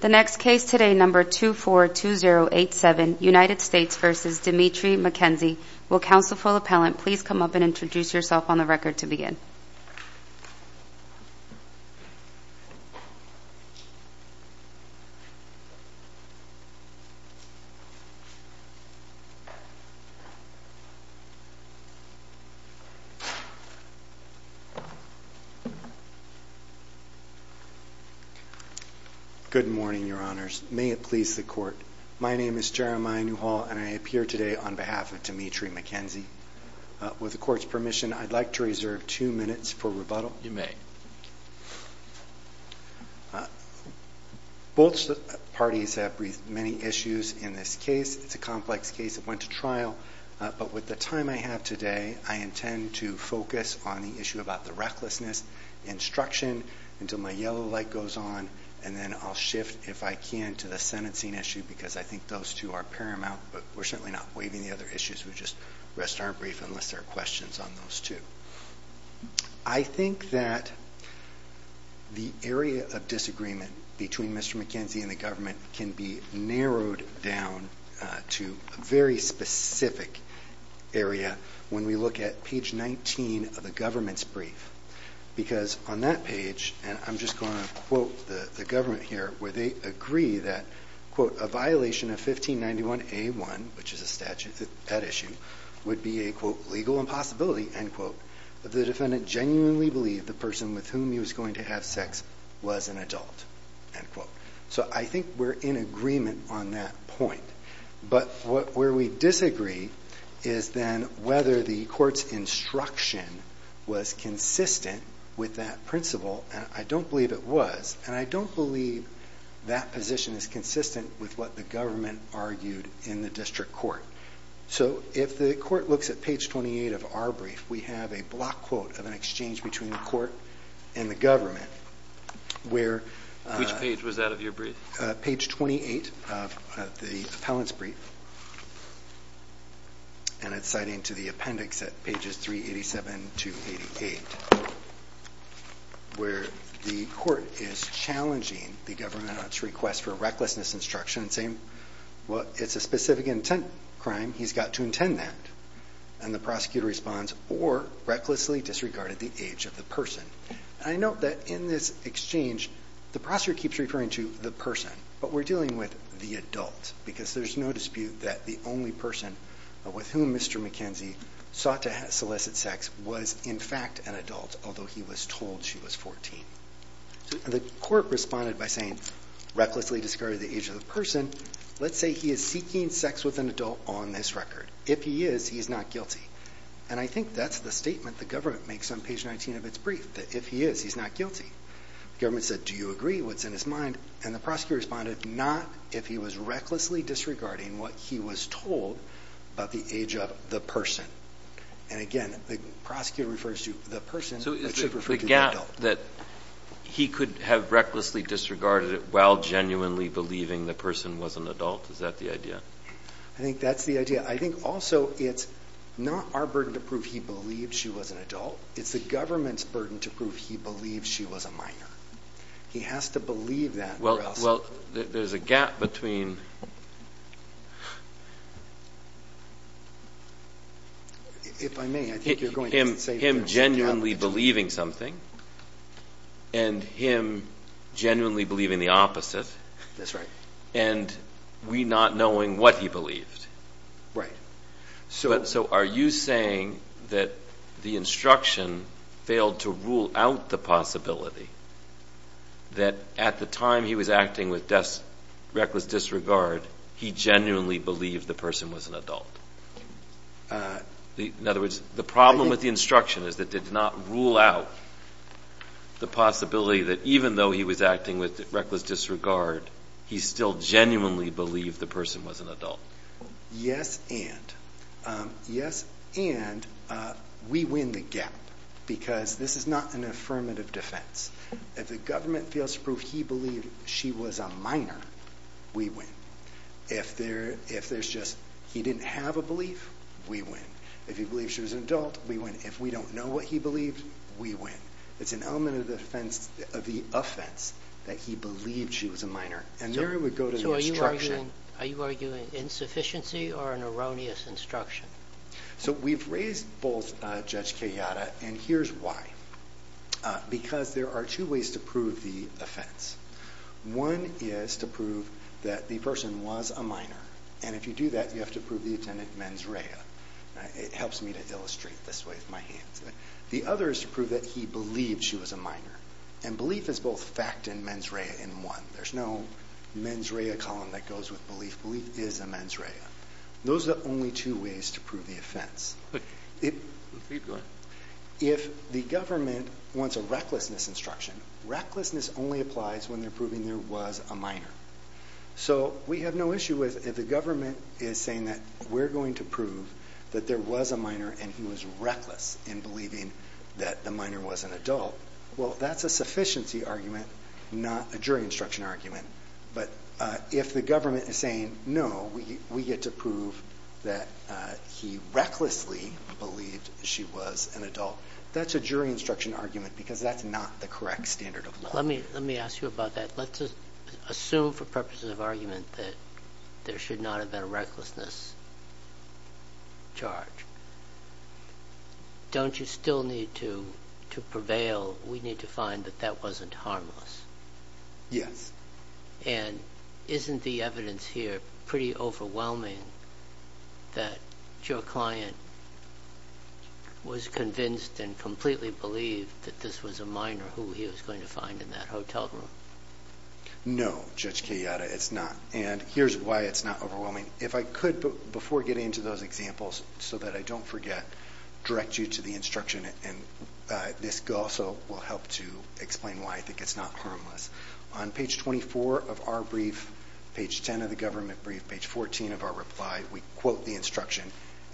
The next case today, number 242087, United States v. Dimitri McKenzie. Will counsel for the appellant please come up and introduce yourself on the record to begin. Good morning, your honors. May it please the court. My name is Jeremiah Newhall and I appear today on behalf of Dimitri McKenzie. With the court's permission, I'd like to reserve two minutes for rebuttal. You may. Both parties have raised many issues in this case. It's a complex case that went to trial. But with the time I have today, I intend to focus on the issue about the recklessness, instruction, until my yellow light goes on, and then I'll shift if I can to the sentencing issue because I think those two are paramount. But we're certainly not waiving the other issues. We'll just rest our brief unless there are questions on those two. I think that the area of disagreement between Mr. McKenzie and the government can be narrowed down to a very specific area when we look at page 19 of the government's brief. Because on that page, and I'm just going to quote the government here, where they agree that, quote, a violation of 1591A1, which is a statute at issue, would be a, quote, legal impossibility, end quote, if the defendant genuinely believed the person with whom he was going to have sex was an adult, end quote. So I think we're in agreement on that point. But where we disagree is then whether the court's instruction was consistent with that principle. And I don't believe it was. And I don't believe that position is consistent with what the government argued in the district court. So if the court looks at page 28 of our brief, we have a block quote of an exchange between the court and the government. Which page was that of your brief? Page 28 of the appellant's brief. And it's citing to the appendix at pages 387 to 88, where the court is challenging the government on its request for recklessness instruction, saying, well, it's a specific intent crime, he's got to intend that. And the prosecutor responds, or recklessly disregarded the age of the person. And I note that in this exchange, the prosecutor keeps referring to the person. But we're dealing with the adult. Because there's no dispute that the only person with whom Mr. McKenzie sought to solicit sex was in fact an adult, although he was told she was 14. The court responded by saying, recklessly discarded the age of the person. Let's say he is seeking sex with an adult on this record. If he is, he is not guilty. And I think that's the statement the government makes on page 19 of its brief, that if he is, he's not guilty. The government said, do you agree? What's in his mind? And the prosecutor responded, not if he was recklessly disregarding what he was told about the age of the person. And, again, the prosecutor refers to the person, but should refer to the adult. So it's the gap that he could have recklessly disregarded it while genuinely believing the person was an adult. Is that the idea? I think that's the idea. I think also it's not our burden to prove he believed she was an adult. It's the government's burden to prove he believed she was a minor. He has to believe that or else. Well, there's a gap between him genuinely believing something and him genuinely believing the opposite. That's right. And we not knowing what he believed. So are you saying that the instruction failed to rule out the possibility that at the time he was acting with reckless disregard, he genuinely believed the person was an adult? In other words, the problem with the instruction is that it did not rule out the possibility that even though he was acting with reckless disregard, he still genuinely believed the person was an adult. Yes, and we win the gap because this is not an affirmative defense. If the government fails to prove he believed she was a minor, we win. If there's just he didn't have a belief, we win. If he believed she was an adult, we win. If we don't know what he believed, we win. It's an element of the offense that he believed she was a minor, and there we go to the instruction. So are you arguing insufficiency or an erroneous instruction? So we've raised both Judge Kayyada, and here's why. Because there are two ways to prove the offense. One is to prove that the person was a minor, and if you do that, you have to prove the attendant mens rea. It helps me to illustrate this way with my hands. The other is to prove that he believed she was a minor. And belief is both fact and mens rea in one. There's no mens rea column that goes with belief. Belief is a mens rea. Those are the only two ways to prove the offense. If the government wants a recklessness instruction, recklessness only applies when they're proving there was a minor. So we have no issue with if the government is saying that we're going to prove that there was a minor and he was reckless in believing that the minor was an adult. Well, that's a sufficiency argument, not a jury instruction argument. But if the government is saying, no, we get to prove that he recklessly believed she was an adult, that's a jury instruction argument because that's not the correct standard of law. Let me ask you about that. Let's assume for purposes of argument that there should not have been a recklessness charge. Don't you still need to prevail? We need to find that that wasn't harmless. Yes. And isn't the evidence here pretty overwhelming that your client was convinced and completely believed that this was a minor who he was going to find in that hotel room? No, Judge Kayyada, it's not. And here's why it's not overwhelming. If I could, before getting into those examples so that I don't forget, direct you to the instruction and this also will help to explain why I think it's not harmless. On page 24 of our brief, page 10 of the government brief, page 14 of our reply, we quote the instruction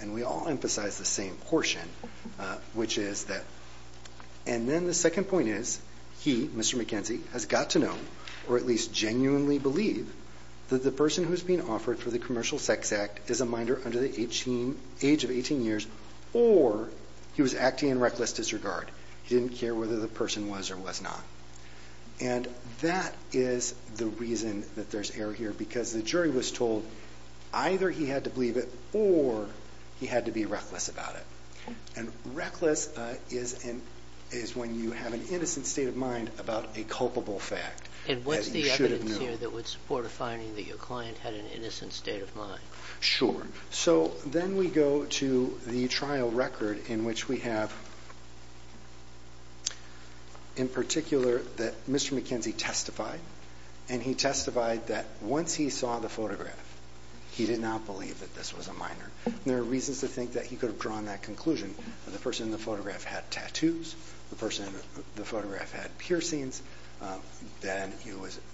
and we all emphasize the same portion, which is that, and then the second point is he, Mr. McKenzie, has got to know or at least genuinely believe that the person who's being offered for the commercial sex act is a minor under the age of 18 years or he was acting in reckless disregard. He didn't care whether the person was or was not. And that is the reason that there's error here because the jury was told either he had to believe it or he had to be reckless about it. And reckless is when you have an innocent state of mind about a culpable fact. And what's the evidence here that would support a finding that your client had an innocent state of mind? Sure. So then we go to the trial record in which we have in particular that Mr. McKenzie testified and he testified that once he saw the photograph, he did not believe that this was a minor. There are reasons to think that he could have drawn that conclusion. The person in the photograph had tattoos. The person in the photograph had piercings. Then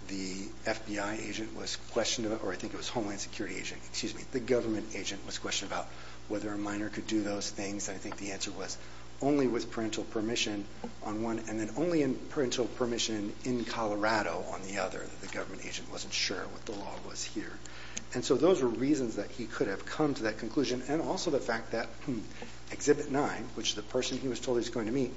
the FBI agent was questioned, or I think it was Homeland Security agent, excuse me, the government agent was questioned about whether a minor could do those things. And I think the answer was only with parental permission on one and then only with parental permission in Colorado on the other. The government agent wasn't sure what the law was here. And so those were reasons that he could have come to that conclusion and also the fact that Exhibit 9, which is the person he was told he was going to meet,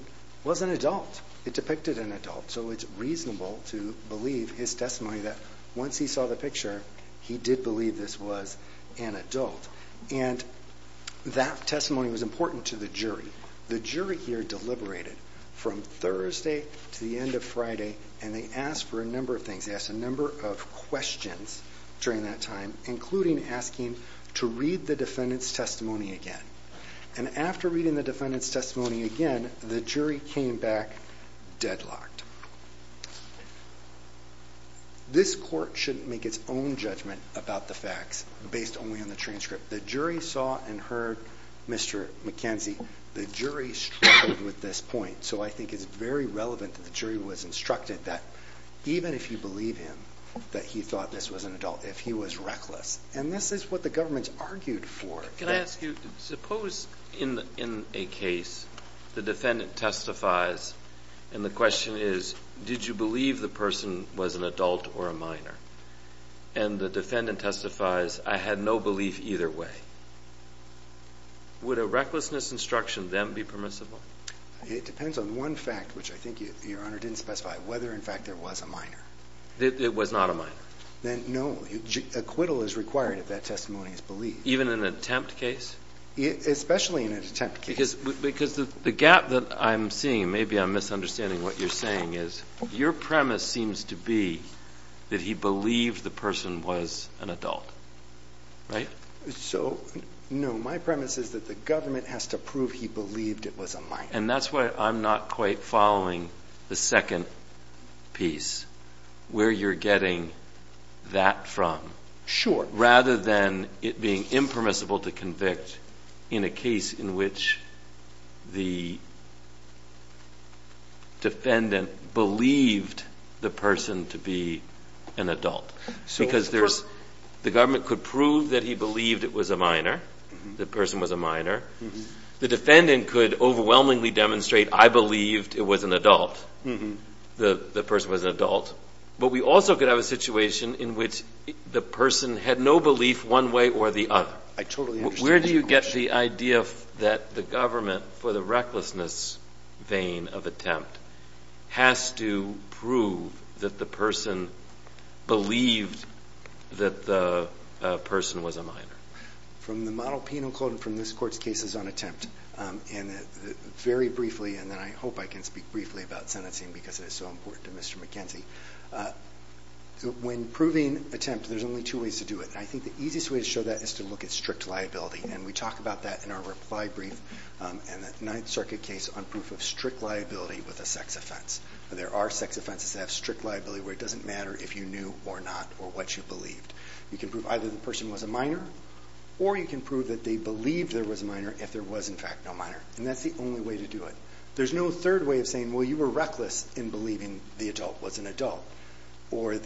was an adult. It depicted an adult. So it's reasonable to believe his testimony that once he saw the picture, he did believe this was an adult. And that testimony was important to the jury. The jury here deliberated from Thursday to the end of Friday, and they asked for a number of things. They asked a number of questions during that time, including asking to read the defendant's testimony again. And after reading the defendant's testimony again, the jury came back deadlocked. This court shouldn't make its own judgment about the facts based only on the transcript. The jury saw and heard Mr. McKenzie. The jury struggled with this point. So I think it's very relevant that the jury was instructed that even if you believe him that he thought this was an adult, if he was reckless, and this is what the government argued for. Can I ask you, suppose in a case the defendant testifies and the question is, did you believe the person was an adult or a minor? And the defendant testifies, I had no belief either way. Would a recklessness instruction then be permissible? It depends on one fact, which I think Your Honor didn't specify, whether, in fact, there was a minor. It was not a minor. No. Acquittal is required if that testimony is believed. Even in an attempt case? Especially in an attempt case. Because the gap that I'm seeing, maybe I'm misunderstanding what you're saying, is your premise seems to be that he believed the person was an adult, right? So, no, my premise is that the government has to prove he believed it was a minor. And that's why I'm not quite following the second piece, where you're getting that from. Sure. Rather than it being impermissible to convict in a case in which the defendant believed the person to be an adult. Because the government could prove that he believed it was a minor, the person was a minor. The defendant could overwhelmingly demonstrate, I believed it was an adult, the person was an adult. But we also could have a situation in which the person had no belief one way or the other. I totally understand that question. Where do you get the idea that the government, for the recklessness vein of attempt, has to prove that the person believed that the person was a minor? From the model penal code and from this Court's cases on attempt, very briefly, and then I hope I can speak briefly about sentencing because it is so important to Mr. McKenzie. When proving attempt, there's only two ways to do it. And I think the easiest way to show that is to look at strict liability. And we talk about that in our reply brief and the Ninth Circuit case on proof of strict liability with a sex offense. There are sex offenses that have strict liability where it doesn't matter if you knew or not or what you believed. You can prove either the person was a minor or you can prove that they believed there was a minor if there was, in fact, no minor. And that's the only way to do it. There's no third way of saying, well, you were reckless in believing the adult was an adult or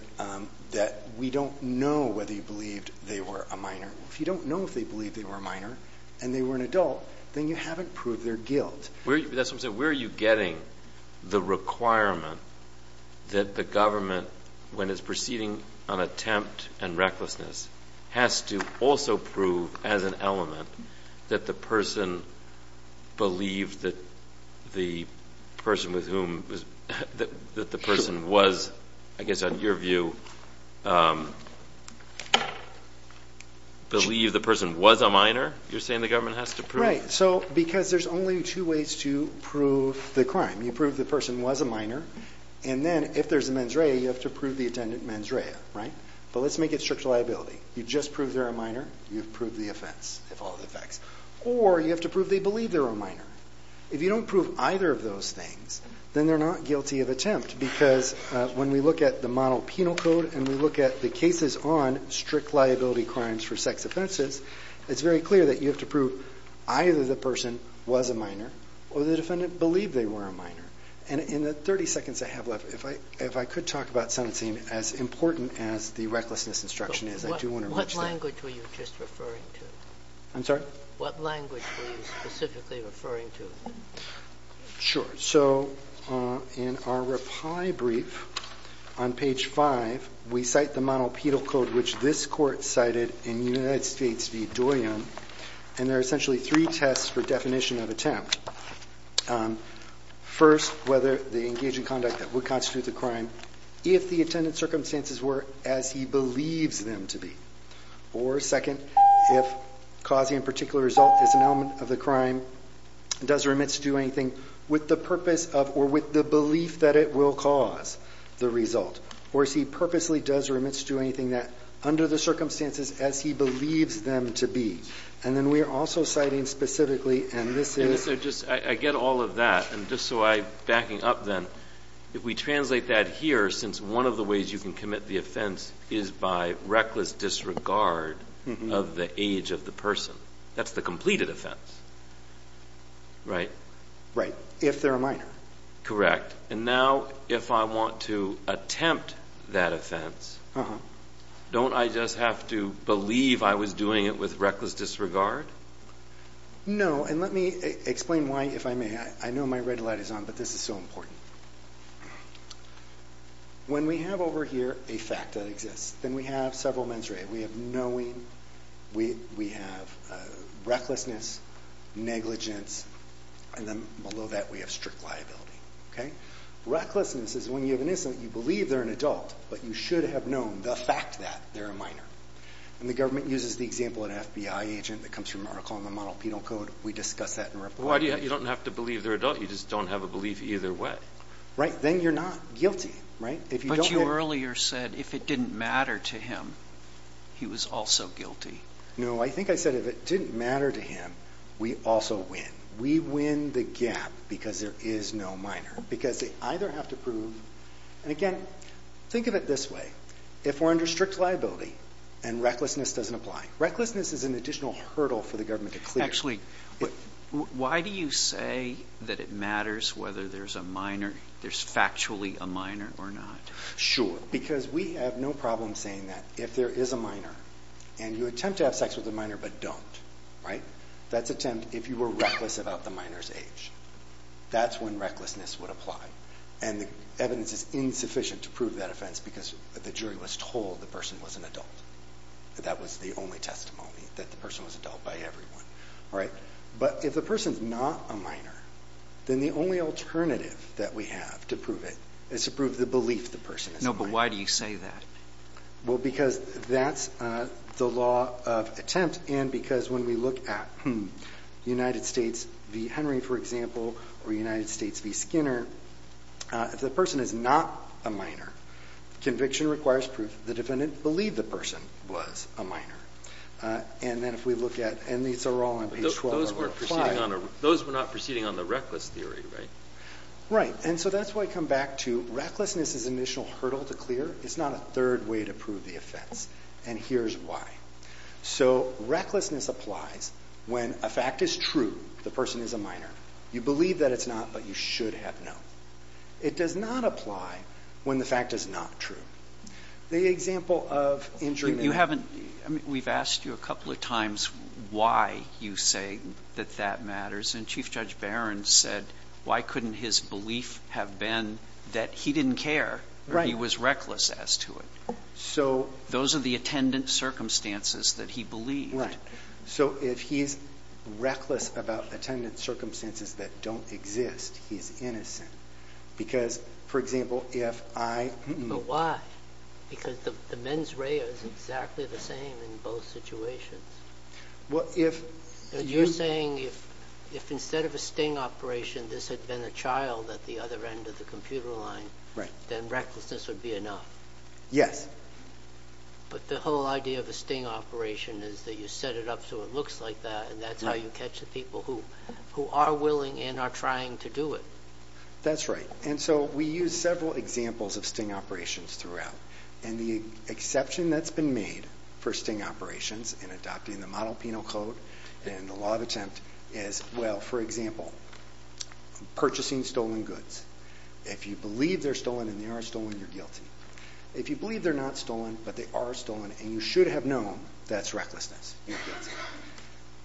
that we don't know whether you believed they were a minor. If you don't know if they believed they were a minor and they were an adult, then you haven't proved their guilt. That's what I'm saying. Where are you getting the requirement that the government, when it's proceeding on attempt and recklessness, has to also prove as an element that the person believed that the person with whom the person was, I guess on your view, believed the person was a minor? You're saying the government has to prove? Right. Because there's only two ways to prove the crime. You prove the person was a minor, and then if there's a mens rea, you have to prove the attendant mens rea. But let's make it strict liability. You've just proved they're a minor. You've proved the offense, if all the facts, or you have to prove they believe they're a minor. If you don't prove either of those things, then they're not guilty of attempt because when we look at the model penal code and we look at the cases on strict liability crimes for sex offenses, it's very clear that you have to prove either the person was a minor or the defendant believed they were a minor. And in the 30 seconds I have left, if I could talk about sentencing as important as the recklessness instruction is, I do want to reach that. What language were you just referring to? I'm sorry? What language were you specifically referring to? Sure. So in our reply brief on page 5, we cite the model penal code which this court cited in United States v. Doyon, and there are essentially three tests for definition of attempt. First, whether they engage in conduct that would constitute the crime if the attendant's circumstances were as he believes them to be. Or second, if causing a particular result is an element of the crime, does or omits to do anything with the purpose of or with the belief that it will cause the result, or if he purposely does or omits to do anything under the circumstances as he believes them to be. And then we are also citing specifically, and this is – I get all of that, and just so I'm backing up then, if we translate that here, since one of the ways you can commit the offense is by reckless disregard of the age of the person. That's the completed offense, right? Right, if they're a minor. Correct. And now if I want to attempt that offense, don't I just have to believe I was doing it with reckless disregard? No, and let me explain why, if I may. I know my red light is on, but this is so important. When we have over here a fact that exists, then we have several mens rea. We have knowing, we have recklessness, negligence, and then below that we have strict liability. Recklessness is when you have an incident, you believe they're an adult, but you should have known the fact that they're a minor. And the government uses the example of an FBI agent that comes from an article in the model penal code. We discuss that in reporting. You don't have to believe they're an adult. You just don't have a belief either way. Right, then you're not guilty, right? But you earlier said if it didn't matter to him, he was also guilty. No, I think I said if it didn't matter to him, we also win. We win the gap because there is no minor, because they either have to prove – And again, think of it this way. If we're under strict liability and recklessness doesn't apply, recklessness is an additional hurdle for the government to clear. Actually, why do you say that it matters whether there's a minor, there's factually a minor or not? Sure, because we have no problem saying that. If there is a minor and you attempt to have sex with a minor but don't, right, that's attempt if you were reckless about the minor's age. That's when recklessness would apply. And the evidence is insufficient to prove that offense because the jury was told the person was an adult. That was the only testimony, that the person was an adult by everyone. But if the person's not a minor, then the only alternative that we have to prove it is to prove the belief the person is a minor. No, but why do you say that? Well, because that's the law of attempt and because when we look at United States v. Henry, for example, or United States v. Skinner, if the person is not a minor, conviction requires proof the defendant believed the person was a minor. And then if we look at, and these are all on page 12 of Article 5. Those were not proceeding on the reckless theory, right? Right, and so that's why I come back to recklessness is an additional hurdle to clear. It's not a third way to prove the offense, and here's why. So recklessness applies when a fact is true, the person is a minor. You believe that it's not, but you should have known. It does not apply when the fact is not true. The example of injuring a minor. We've asked you a couple of times why you say that that matters, and Chief Judge Barron said why couldn't his belief have been that he didn't care or he was reckless as to it. Those are the attendant circumstances that he believed. Right, so if he's reckless about attendant circumstances that don't exist, he's innocent. Because, for example, if I... But why? Because the mens rea is exactly the same in both situations. Well, if... You're saying if instead of a sting operation this had been a child at the other end of the computer line, then recklessness would be enough. Yes. But the whole idea of a sting operation is that you set it up so it looks like that, and that's how you catch the people who are willing and are trying to do it. That's right, and so we use several examples of sting operations throughout, and the exception that's been made for sting operations in adopting the model penal code and the law of attempt is, well, for example, purchasing stolen goods. If you believe they're stolen and they are stolen, you're guilty. If you believe they're not stolen but they are stolen and you should have known, that's recklessness. You're guilty.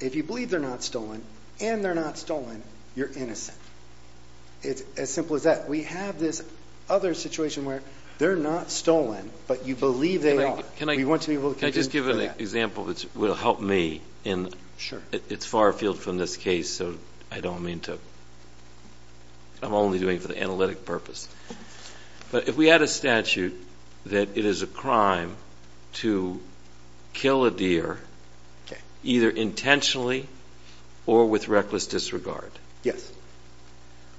If you believe they're not stolen and they're not stolen, you're innocent. It's as simple as that. We have this other situation where they're not stolen but you believe they are. Can I just give an example that will help me? Sure. It's far afield from this case, so I don't mean to... I'm only doing it for the analytic purpose. But if we had a statute that it is a crime to kill a deer either intentionally or with reckless disregard,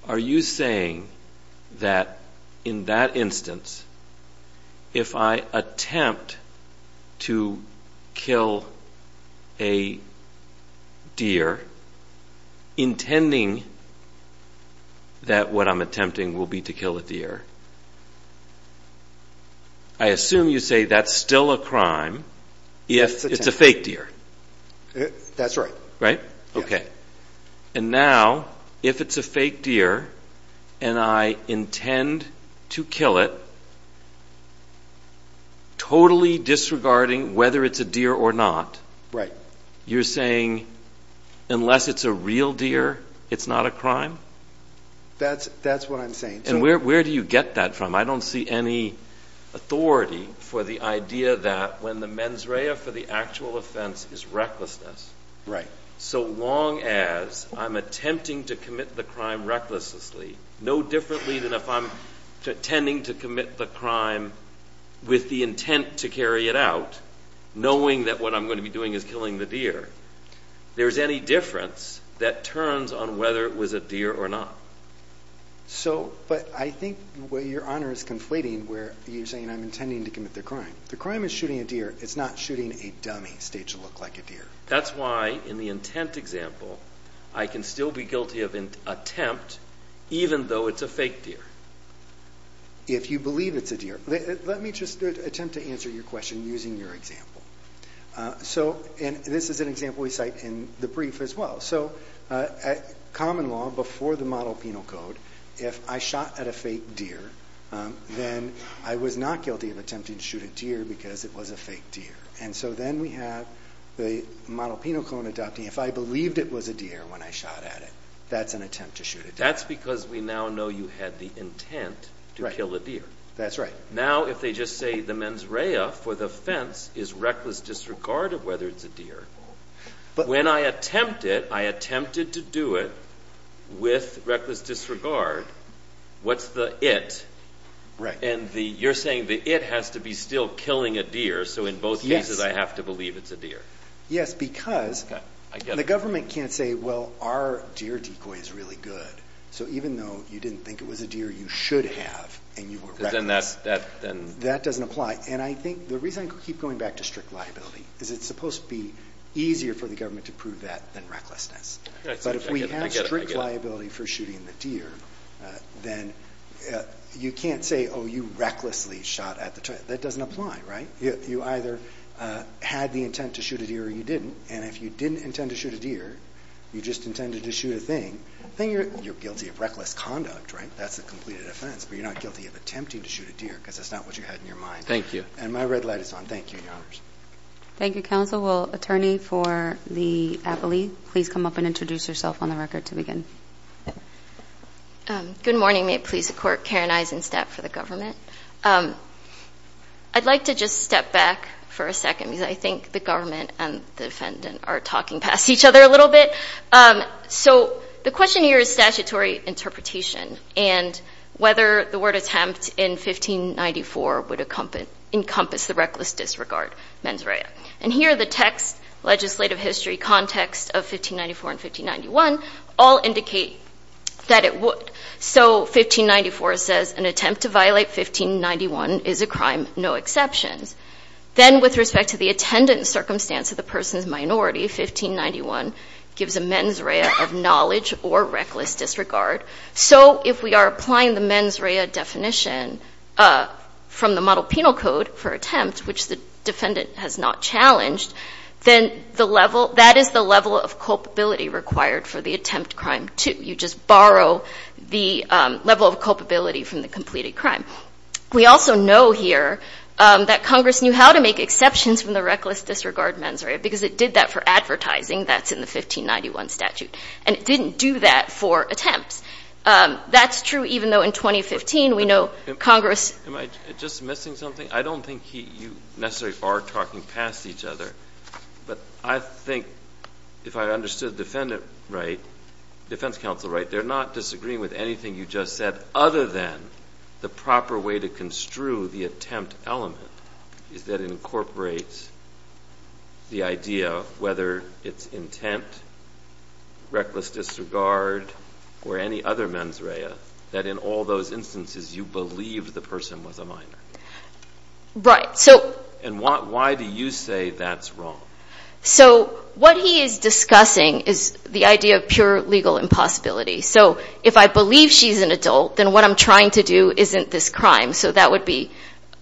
are you saying that in that instance if I attempt to kill a deer, intending that what I'm attempting will be to kill a deer, I assume you say that's still a crime if it's a fake deer. That's right. Right? Okay. And now if it's a fake deer and I intend to kill it, totally disregarding whether it's a deer or not, you're saying unless it's a real deer, it's not a crime? That's what I'm saying. And where do you get that from? I don't see any authority for the idea that when the mens rea for the actual offense is recklessness, so long as I'm attempting to commit the crime recklessly, no differently than if I'm intending to commit the crime with the intent to carry it out, knowing that what I'm going to be doing is killing the deer, there's any difference that turns on whether it was a deer or not. But I think your honor is conflating where you're saying I'm intending to commit the crime. The crime is shooting a deer. It's not shooting a dummy staged to look like a deer. That's why in the intent example I can still be guilty of attempt even though it's a fake deer. If you believe it's a deer. Let me just attempt to answer your question using your example. And this is an example we cite in the brief as well. So common law before the model penal code, if I shot at a fake deer, then I was not guilty of attempting to shoot a deer because it was a fake deer. And so then we have the model penal code adopting if I believed it was a deer when I shot at it, that's an attempt to shoot it. That's because we now know you had the intent to kill a deer. That's right. Now if they just say the mens rea for the offense is reckless disregard of whether it's a deer, when I attempt it, I attempted to do it with reckless disregard, what's the it? And you're saying the it has to be still killing a deer. So in both cases I have to believe it's a deer. Yes, because the government can't say, well, our deer decoy is really good. So even though you didn't think it was a deer, you should have and you were reckless. That doesn't apply. And I think the reason I keep going back to strict liability is it's supposed to be easier for the government to prove that than recklessness. But if we have strict liability for shooting the deer, then you can't say, oh, you recklessly shot at the deer. That doesn't apply, right? You either had the intent to shoot a deer or you didn't. And if you didn't intend to shoot a deer, you just intended to shoot a thing, then you're guilty of reckless conduct, right? That's a completed offense. But you're not guilty of attempting to shoot a deer because that's not what you had in your mind. Thank you. And my red light is on. Thank you, Your Honors. Thank you, counsel. Will attorney for the appellee please come up and introduce herself on the record to begin? Good morning. May it please the Court. Karen Eisenstadt for the government. I'd like to just step back for a second because I think the government and the defendant are talking past each other a little bit. So the question here is statutory interpretation and whether the word attempt in 1594 would encompass the reckless disregard mens rea. And here the text, legislative history, context of 1594 and 1591 all indicate that it would. So 1594 says an attempt to violate 1591 is a crime, no exceptions. Then with respect to the attendant circumstance of the person's minority, 1591 gives a mens rea of knowledge or reckless disregard. So if we are applying the mens rea definition from the model penal code for attempt, which the defendant has not challenged, then that is the level of culpability required for the attempt crime too. You just borrow the level of culpability from the completed crime. We also know here that Congress knew how to make exceptions from the reckless disregard mens rea because it did that for advertising. That's in the 1591 statute. And it didn't do that for attempts. That's true even though in 2015 we know Congress — Am I just missing something? I don't think you necessarily are talking past each other. But I think if I understood the defendant right, defense counsel right, they're not disagreeing with anything you just said other than the proper way to construe the attempt element is that it incorporates the idea whether it's intent, reckless disregard, or any other mens rea, that in all those instances you believe the person was a minor. Right. And why do you say that's wrong? So what he is discussing is the idea of pure legal impossibility. So if I believe she's an adult, then what I'm trying to do isn't this crime. So that would be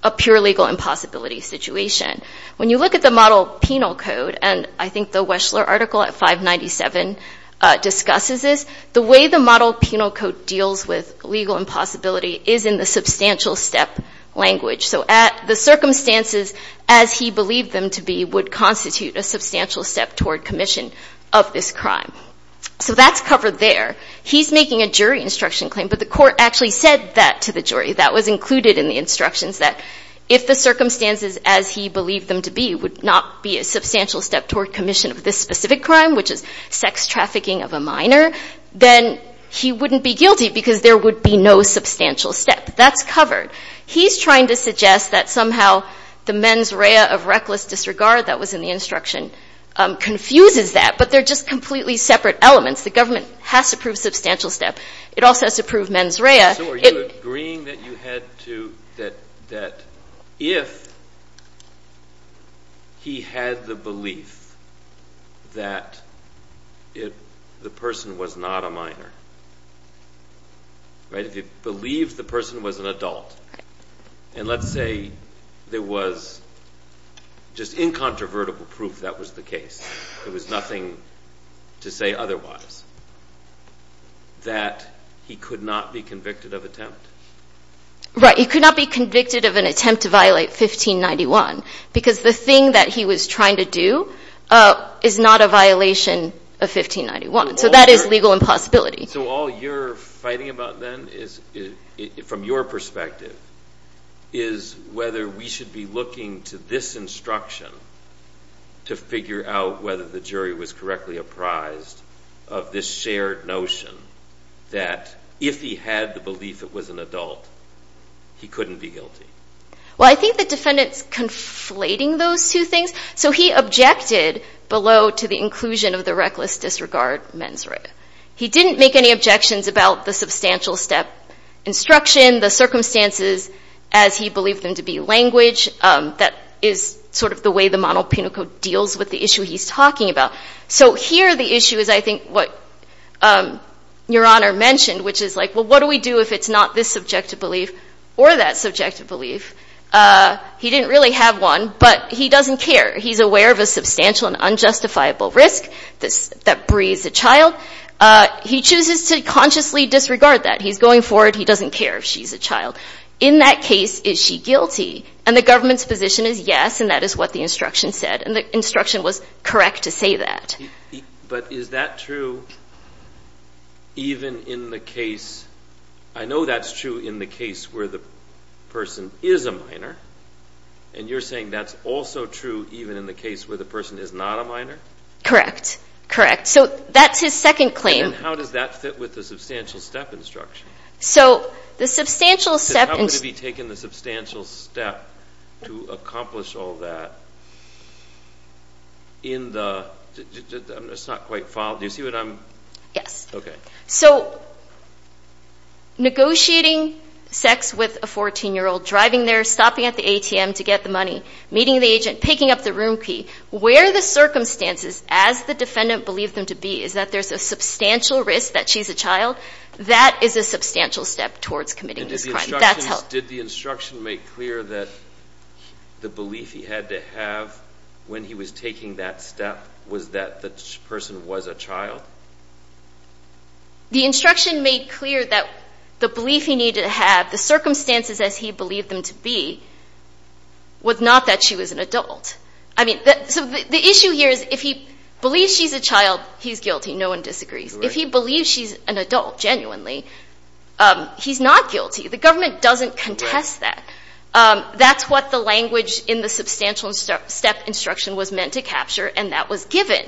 a pure legal impossibility situation. When you look at the model penal code, and I think the Weschler article at 597 discusses this, the way the model penal code deals with legal impossibility is in the substantial step language. So the circumstances as he believed them to be would constitute a substantial step toward commission of this crime. So that's covered there. He's making a jury instruction claim, but the court actually said that to the jury. That was included in the instructions that if the circumstances as he believed them to be would not be a substantial step toward commission of this specific crime, which is sex trafficking of a minor, then he wouldn't be guilty because there would be no substantial step. That's covered. He's trying to suggest that somehow the mens rea of reckless disregard that was in the instruction confuses that, but they're just completely separate elements. The government has to prove substantial step. It also has to prove mens rea. So are you agreeing that if he had the belief that the person was not a minor, if he believed the person was an adult, and let's say there was just incontrovertible proof that was the case, there was nothing to say otherwise, that he could not be convicted of attempt? Right. He could not be convicted of an attempt to violate 1591 because the thing that he was trying to do is not a violation of 1591. So that is legal impossibility. So all you're fighting about then is, from your perspective, is whether we should be looking to this instruction to figure out whether the jury was correctly apprised of this shared notion that if he had the belief it was an adult, he couldn't be guilty. Well, I think the defendant's conflating those two things. So he objected below to the inclusion of the reckless disregard mens rea. He didn't make any objections about the substantial step instruction, the circumstances as he believed them to be language. That is sort of the way the monoponical deals with the issue he's talking about. So here the issue is, I think, what Your Honor mentioned, which is like, well, what do we do if it's not this subjective belief or that subjective belief? He didn't really have one, but he doesn't care. He's aware of a substantial and unjustifiable risk that breeds a child. He chooses to consciously disregard that. He's going forward. He doesn't care if she's a child. In that case, is she guilty? And the government's position is yes, and that is what the instruction said. And the instruction was correct to say that. But is that true even in the case, I know that's true in the case where the person is a minor, and you're saying that's also true even in the case where the person is not a minor? Correct. Correct. So that's his second claim. And then how does that fit with the substantial step instruction? So the substantial step instruction. to accomplish all that in the – it's not quite followed. Do you see what I'm – Yes. Okay. So negotiating sex with a 14-year-old, driving there, stopping at the ATM to get the money, meeting the agent, picking up the room key, where the circumstances, as the defendant believed them to be, is that there's a substantial risk that she's a child, that is a substantial step towards committing this crime. Did the instruction make clear that the belief he had to have when he was taking that step was that the person was a child? The instruction made clear that the belief he needed to have, the circumstances as he believed them to be, was not that she was an adult. I mean, so the issue here is if he believes she's a child, he's guilty. No one disagrees. If he believes she's an adult, genuinely, he's not guilty. The government doesn't contest that. That's what the language in the substantial step instruction was meant to capture, and that was given.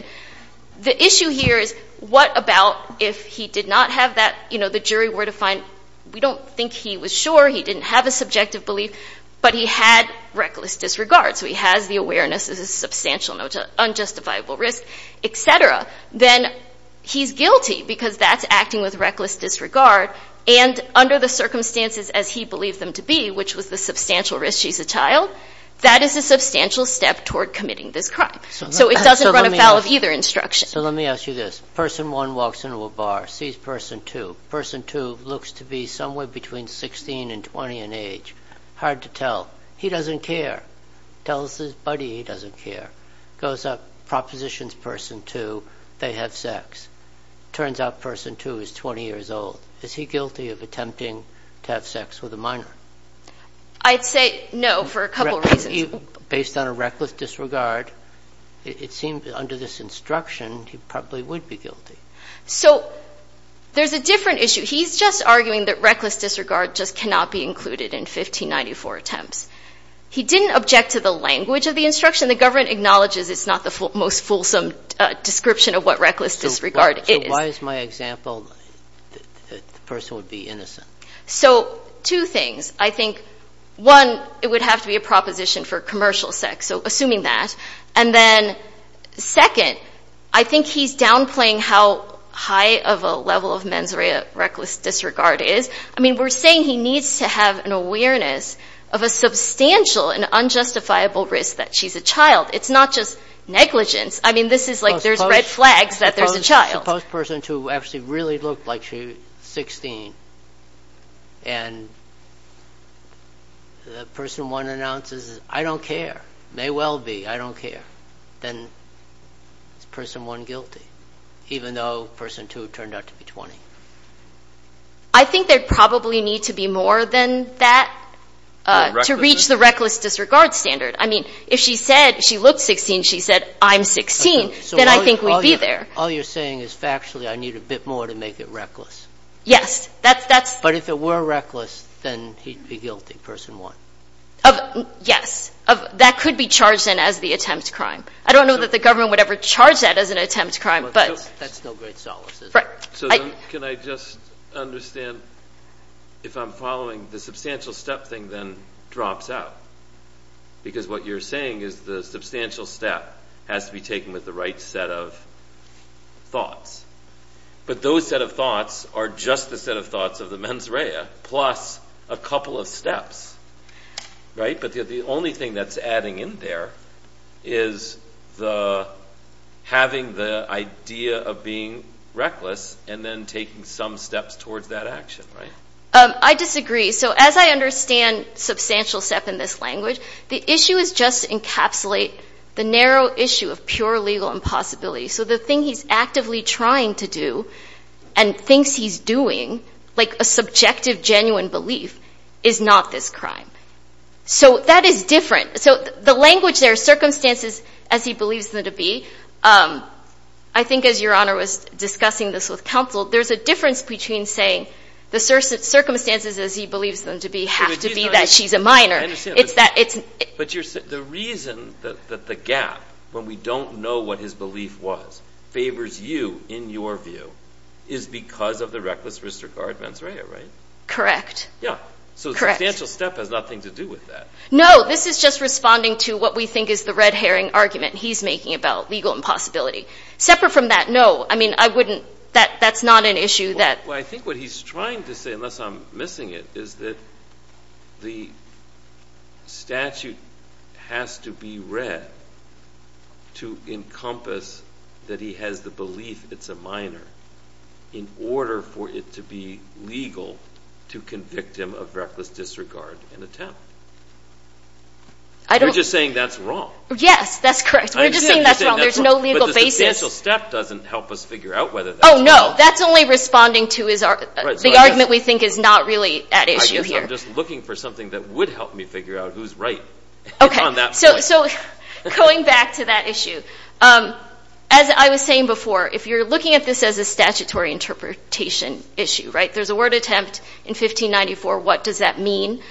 The issue here is what about if he did not have that – you know, the jury were to find we don't think he was sure, he didn't have a subjective belief, but he had reckless disregard, so he has the awareness as a substantial, unjustifiable risk, et cetera. Then he's guilty because that's acting with reckless disregard, and under the circumstances as he believed them to be, which was the substantial risk she's a child, that is a substantial step toward committing this crime. So it doesn't run afoul of either instruction. So let me ask you this. Person 1 walks into a bar, sees Person 2. Person 2 looks to be somewhere between 16 and 20 in age. Hard to tell. He doesn't care. Tells his buddy he doesn't care. Goes up, propositions Person 2 they have sex. Turns out Person 2 is 20 years old. Is he guilty of attempting to have sex with a minor? I'd say no for a couple reasons. Based on a reckless disregard, it seems under this instruction, he probably would be guilty. So there's a different issue. He's just arguing that reckless disregard just cannot be included in 1594 attempts. He didn't object to the language of the instruction. The government acknowledges it's not the most fulsome description of what reckless disregard is. Why is my example that the person would be innocent? So two things. I think, one, it would have to be a proposition for commercial sex, so assuming that. And then, second, I think he's downplaying how high of a level of mens rea reckless disregard is. I mean, we're saying he needs to have an awareness of a substantial and unjustifiable risk that she's a child. It's not just negligence. I mean, this is like there's red flags that there's a child. Suppose person two actually really looked like she's 16 and the person one announces, I don't care, may well be, I don't care. Then is person one guilty, even though person two turned out to be 20? I think there'd probably need to be more than that to reach the reckless disregard standard. I mean, if she said she looked 16, she said, I'm 16, then I think we'd be there. All you're saying is factually I need a bit more to make it reckless. Yes. But if it were reckless, then he'd be guilty, person one. Yes. That could be charged then as the attempt to crime. I don't know that the government would ever charge that as an attempt to crime. That's no great solace, is it? Can I just understand, if I'm following, the substantial step thing then drops out because what you're saying is the substantial step has to be taken with the right set of thoughts. But those set of thoughts are just the set of thoughts of the mens rea plus a couple of steps, right? But the only thing that's adding in there is having the idea of being reckless and then taking some steps towards that action, right? I disagree. So as I understand substantial step in this language, the issue is just to encapsulate the narrow issue of pure legal impossibility. So the thing he's actively trying to do and thinks he's doing, like a subjective genuine belief, is not this crime. So that is different. So the language there, circumstances as he believes them to be, I think as Your Honor was discussing this with counsel, there's a difference between saying the circumstances as he believes them to be have to be that she's a minor. I understand. But the reason that the gap, when we don't know what his belief was, favors you in your view is because of the reckless disregard mens rea, right? Correct. Yeah. Correct. So substantial step has nothing to do with that. No, this is just responding to what we think is the red herring argument he's making about legal impossibility. Separate from that, no, that's not an issue. Well, I think what he's trying to say, unless I'm missing it, is that the statute has to be read to encompass that he has the belief it's a minor in order for it to be legal to convict him of reckless disregard and attempt. We're just saying that's wrong. Yes, that's correct. We're just saying that's wrong. There's no legal basis. But the substantial step doesn't help us figure out whether that's wrong. Oh, no. That's only responding to the argument we think is not really at issue here. I guess I'm just looking for something that would help me figure out who's right. Okay. So going back to that issue, as I was saying before, if you're looking at this as a statutory interpretation issue, right, there's a word attempt in 1594. What does that mean?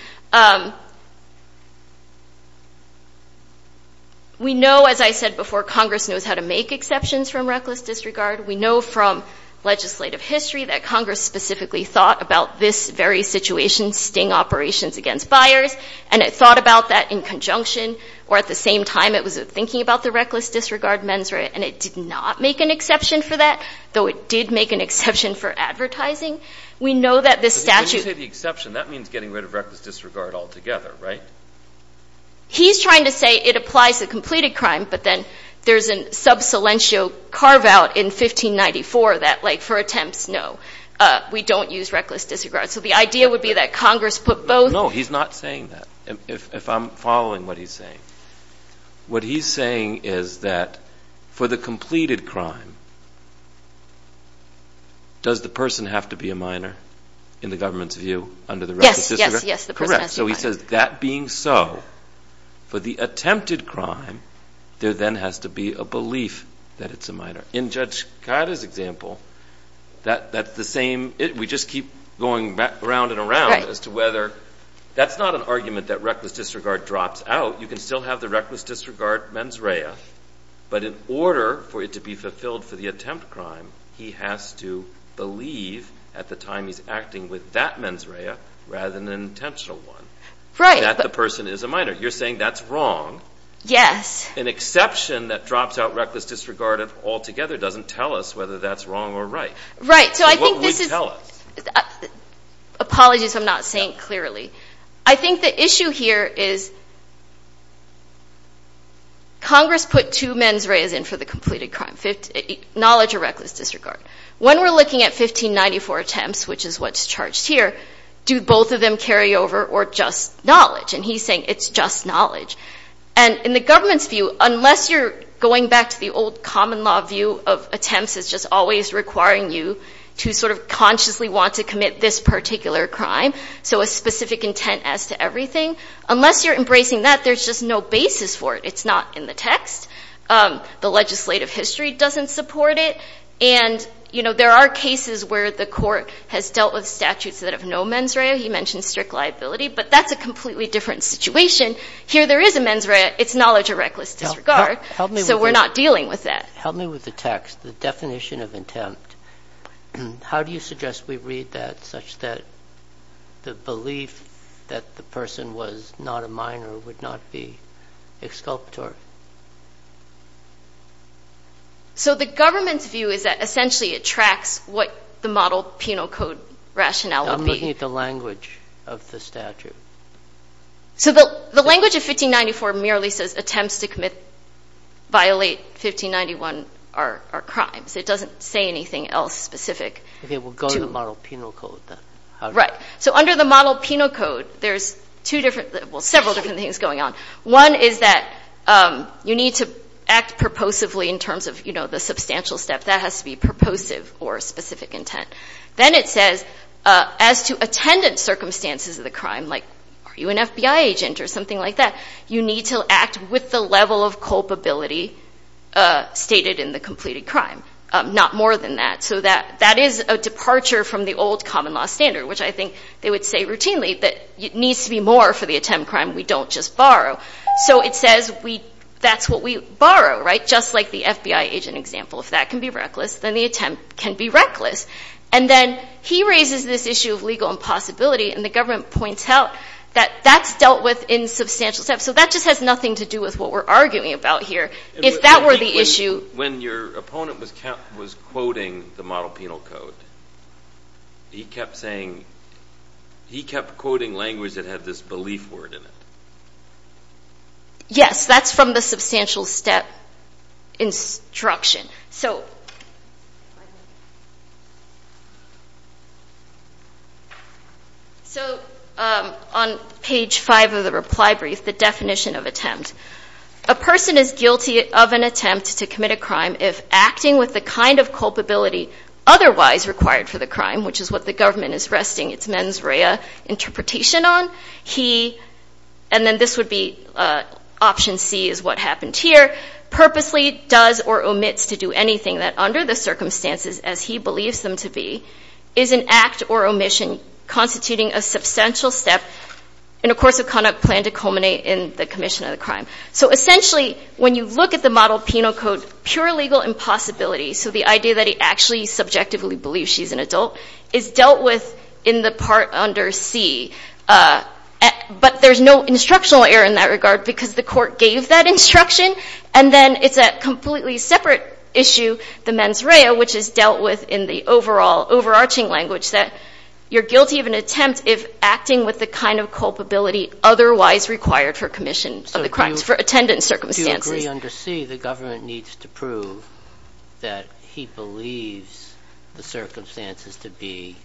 We know, as I said before, Congress knows how to make exceptions from reckless disregard. We know from legislative history that Congress specifically thought about this very situation, sting operations against buyers, and it thought about that in conjunction or at the same time it was thinking about the reckless disregard mens rea, and it did not make an exception for that, though it did make an exception for advertising. We know that this statute — When you say the exception, that means getting rid of reckless disregard altogether, right? He's trying to say it applies to completed crime, but then there's a sub silentio carve-out in 1594 that, like, for attempts, no, we don't use reckless disregard. So the idea would be that Congress put both. No, he's not saying that, if I'm following what he's saying. What he's saying is that for the completed crime, does the person have to be a minor in the government's view under the reckless disregard? Yes, yes, yes, the person has to be a minor. So he says that being so, for the attempted crime, there then has to be a belief that it's a minor. In Judge Kayada's example, that's the same. We just keep going back around and around as to whether. That's not an argument that reckless disregard drops out. You can still have the reckless disregard mens rea, but in order for it to be fulfilled for the attempt crime, he has to believe at the time he's acting with that mens rea rather than an intentional one. Right. That the person is a minor. You're saying that's wrong. Yes. An exception that drops out reckless disregard altogether doesn't tell us whether that's wrong or right. Right. So I think this is. So what would it tell us? Apologies if I'm not saying it clearly. I think the issue here is Congress put two mens reas in for the completed crime, knowledge or reckless disregard. When we're looking at 1594 attempts, which is what's charged here, do both of them carry over or just knowledge? And he's saying it's just knowledge. And in the government's view, unless you're going back to the old common law view of attempts as just always requiring you to sort of consciously want to commit this particular crime, so a specific intent as to everything, unless you're embracing that, there's just no basis for it. It's not in the text. The legislative history doesn't support it. And, you know, there are cases where the court has dealt with statutes that have no mens rea. He mentioned strict liability. But that's a completely different situation. Here there is a mens rea. It's knowledge or reckless disregard. So we're not dealing with that. Help me with the text. The definition of intent. How do you suggest we read that such that the belief that the person was not a minor would not be exculpatory? So the government's view is that essentially it tracks what the model penal code rationale would be. I'm looking at the language of the statute. So the language of 1594 merely says attempts to violate 1591 are crimes. It doesn't say anything else specific. Okay. We'll go to the model penal code then. Right. So under the model penal code, there's two different, well, several different things going on. One is that you need to act purposively in terms of, you know, the substantial step. That has to be purposive or specific intent. Then it says as to attendant circumstances of the crime, like are you an FBI agent or something like that, you need to act with the level of culpability stated in the completed crime, not more than that. So that is a departure from the old common law standard, which I think they would say routinely that it needs to be more for the attempt crime we don't just borrow. So it says that's what we borrow, right, just like the FBI agent example. If that can be reckless, then the attempt can be reckless. And then he raises this issue of legal impossibility, and the government points out that that's dealt with in substantial steps. So that just has nothing to do with what we're arguing about here. When your opponent was quoting the model penal code, he kept saying, he kept quoting language that had this belief word in it. Yes, that's from the substantial step instruction. So on page five of the reply brief, the definition of attempt. A person is guilty of an attempt to commit a crime if acting with the kind of culpability otherwise required for the crime, which is what the government is resting its mens rea interpretation on. He, and then this would be option C is what happened here, purposely does or omits to do anything that under the circumstances as he believes them to be, is an act or omission constituting a substantial step in a course of conduct that's planned to culminate in the commission of the crime. So essentially, when you look at the model penal code, pure legal impossibility, so the idea that he actually subjectively believes she's an adult, is dealt with in the part under C. But there's no instructional error in that regard because the court gave that instruction. And then it's a completely separate issue, the mens rea, which is dealt with in the overarching language that you're guilty of an attempt if acting with the kind of culpability otherwise required for commission of the crimes, for attendance circumstances. Do you agree under C the government needs to prove that he believes the circumstances to be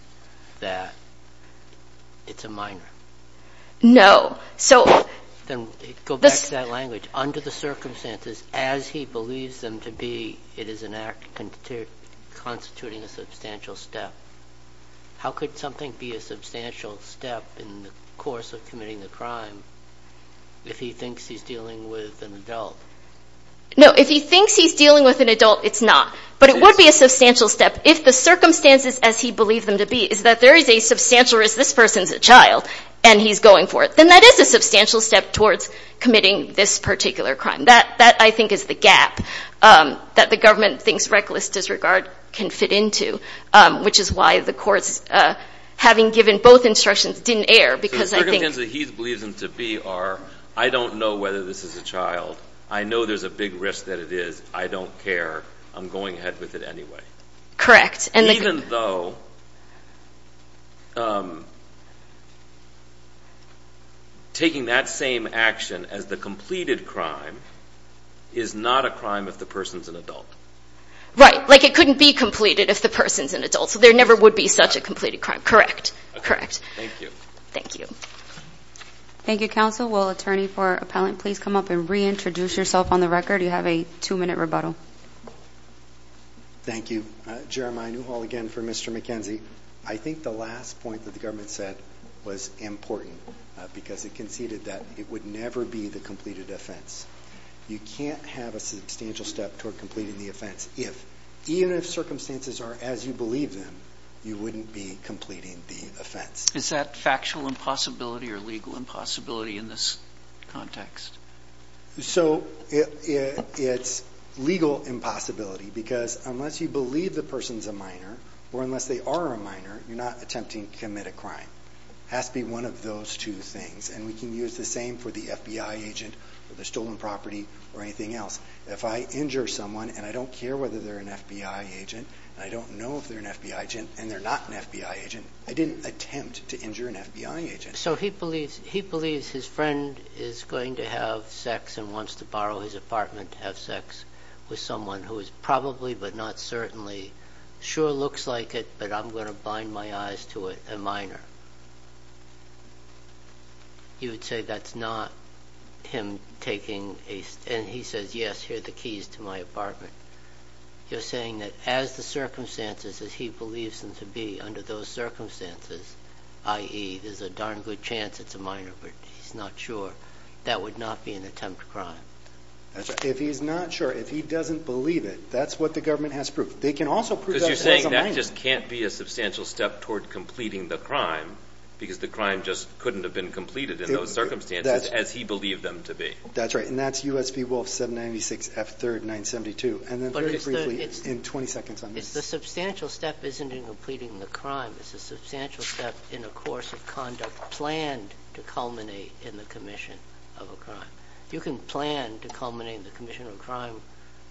that it's a minor? No. Then go back to that language. Under the circumstances as he believes them to be, it is an act constituting a substantial step. How could something be a substantial step in the course of committing the crime if he thinks he's dealing with an adult? No. If he thinks he's dealing with an adult, it's not. But it would be a substantial step if the circumstances as he believed them to be, is that there is a substantial risk this person's a child and he's going for it. Then that is a substantial step towards committing this particular crime. That, I think, is the gap that the government thinks reckless disregard can fit into, which is why the courts, having given both instructions, didn't err. The circumstances that he believes them to be are, I don't know whether this is a child. I know there's a big risk that it is. I don't care. I'm going ahead with it anyway. Correct. Even though taking that same action as the completed crime is not a crime if the person's an adult. Right. Like it couldn't be completed if the person's an adult. So there never would be such a completed crime. Correct. Thank you. Thank you. Thank you, Counsel. Will Attorney for Appellant please come up and reintroduce yourself on the record? You have a two-minute rebuttal. Thank you. Jeremiah Newhall again for Mr. McKenzie. I think the last point that the government said was important because it conceded that it would never be the completed offense. You can't have a substantial step toward completing the offense if, even if circumstances are as you believe them, you wouldn't be completing the offense. Is that factual impossibility or legal impossibility in this context? So it's legal impossibility because unless you believe the person's a minor or unless they are a minor, you're not attempting to commit a crime. It has to be one of those two things. And we can use the same for the FBI agent or the stolen property or anything else. If I injure someone and I don't care whether they're an FBI agent and I don't know if they're an FBI agent and they're not an FBI agent, I didn't attempt to injure an FBI agent. So he believes his friend is going to have sex and wants to borrow his apartment to have sex with someone who is probably but not certainly sure looks like it, but I'm going to bind my eyes to it, a minor. You would say that's not him taking a – and he says, yes, here are the keys to my apartment. You're saying that as the circumstances as he believes them to be, under those circumstances, i.e., there's a darn good chance it's a minor, but he's not sure, that would not be an attempt to crime. If he's not sure, if he doesn't believe it, that's what the government has proved. They can also prove that as a minor. Because you're saying that just can't be a substantial step toward completing the crime because the crime just couldn't have been completed in those circumstances as he believed them to be. That's right, and that's U.S. v. Wolf 796 F3rd 972. And then very briefly in 20 seconds on this. The substantial step isn't in completing the crime. It's a substantial step in a course of conduct planned to culminate in the commission of a crime. You can plan to culminate in the commission of a crime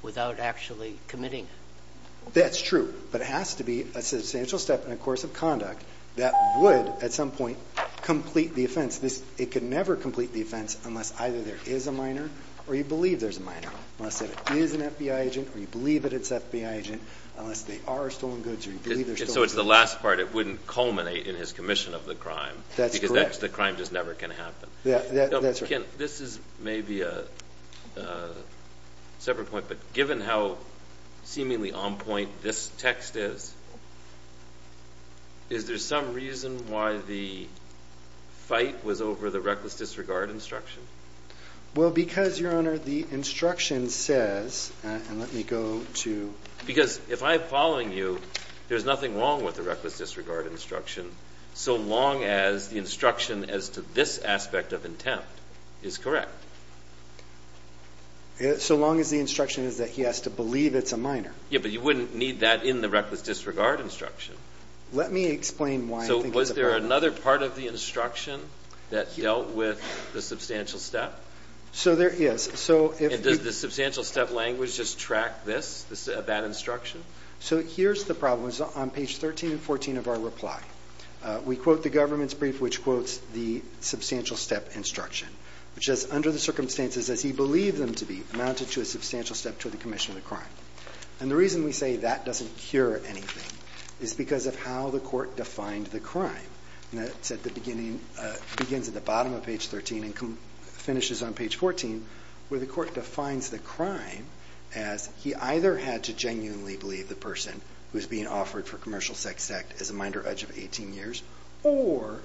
without actually committing it. That's true, but it has to be a substantial step in a course of conduct that would at some point complete the offense. It could never complete the offense unless either there is a minor or you believe there's a minor, unless it is an FBI agent or you believe that it's FBI agent, unless they are stolen goods or you believe they're stolen goods. And so it's the last part. It wouldn't culminate in his commission of the crime. That's correct. Because the crime just never can happen. This is maybe a separate point, but given how seemingly on point this text is, is there some reason why the fight was over the reckless disregard instruction? Well, because, Your Honor, the instruction says, and let me go to… Because if I'm following you, there's nothing wrong with the reckless disregard instruction so long as the instruction as to this aspect of intent is correct. So long as the instruction is that he has to believe it's a minor. Yeah, but you wouldn't need that in the reckless disregard instruction. Let me explain why I think that's a problem. So was there another part of the instruction that dealt with the substantial step? So there is. And does the substantial step language just track this, that instruction? So here's the problem. It's on page 13 and 14 of our reply. We quote the government's brief, which quotes the substantial step instruction, which says, Under the circumstances as he believed them to be amounted to a substantial step to the commission of the crime. And the reason we say that doesn't cure anything is because of how the court defined the crime. And that's at the beginning, begins at the bottom of page 13 and finishes on page 14, where the court defines the crime as he either had to genuinely believe the person who's being offered for commercial sex act is a minor edge of 18 years, or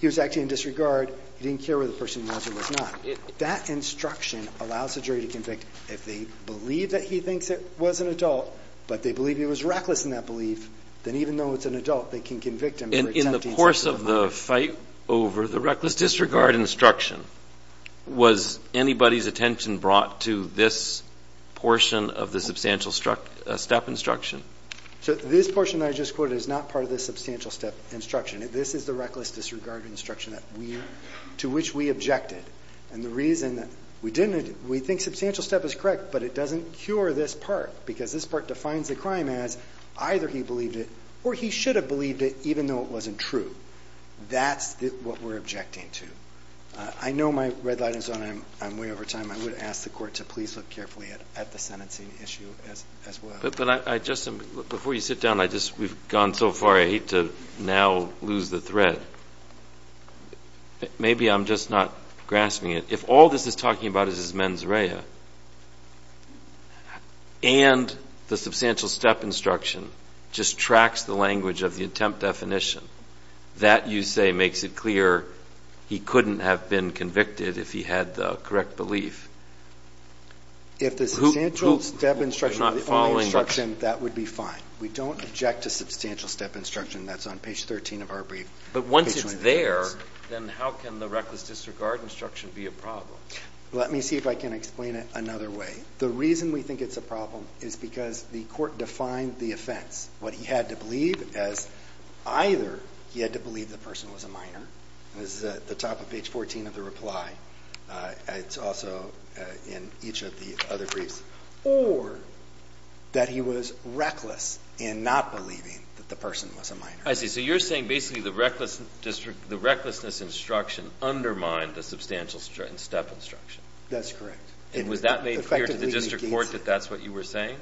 he was acting in disregard. He didn't care where the person was or was not. That instruction allows the jury to convict if they believe that he thinks it was an adult, but they believe he was reckless in that belief, then even though it's an adult, they can convict him. In the course of the fight over the reckless disregard instruction, was anybody's attention brought to this portion of the substantial step instruction? So this portion that I just quoted is not part of the substantial step instruction. This is the reckless disregard instruction to which we objected. And the reason that we didn't, we think substantial step is correct, but it doesn't cure this part because this part defines the crime as either he believed it or he should have believed it even though it wasn't true. That's what we're objecting to. I know my red light is on. I'm way over time. I would ask the court to please look carefully at the sentencing issue as well. But, Justin, before you sit down, we've gone so far, I hate to now lose the thread. Maybe I'm just not grasping it. If all this is talking about is his mens rea and the substantial step instruction just tracks the language of the attempt definition, that, you say, makes it clear he couldn't have been convicted if he had the correct belief. If the substantial step instruction were the only instruction, that would be fine. We don't object to substantial step instruction. That's on page 13 of our brief. But once it's there, then how can the reckless disregard instruction be a problem? Let me see if I can explain it another way. The reason we think it's a problem is because the court defined the offense, what he had to believe as either he had to believe the person was a minor. This is at the top of page 14 of the reply. It's also in each of the other briefs. Or that he was reckless in not believing that the person was a minor. I see. So you're saying basically the recklessness instruction undermined the substantial step instruction. That's correct. And was that made clear to the district court that that's what you were saying?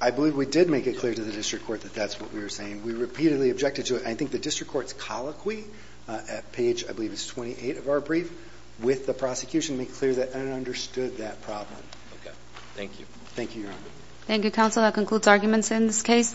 I believe we did make it clear to the district court that that's what we were saying. We repeatedly objected to it. I think the district court's colloquy at page, I believe it's 28 of our brief, with the prosecution made clear that it understood that problem. Okay. Thank you. Thank you, Your Honor. Thank you, counsel. That concludes arguments in this case.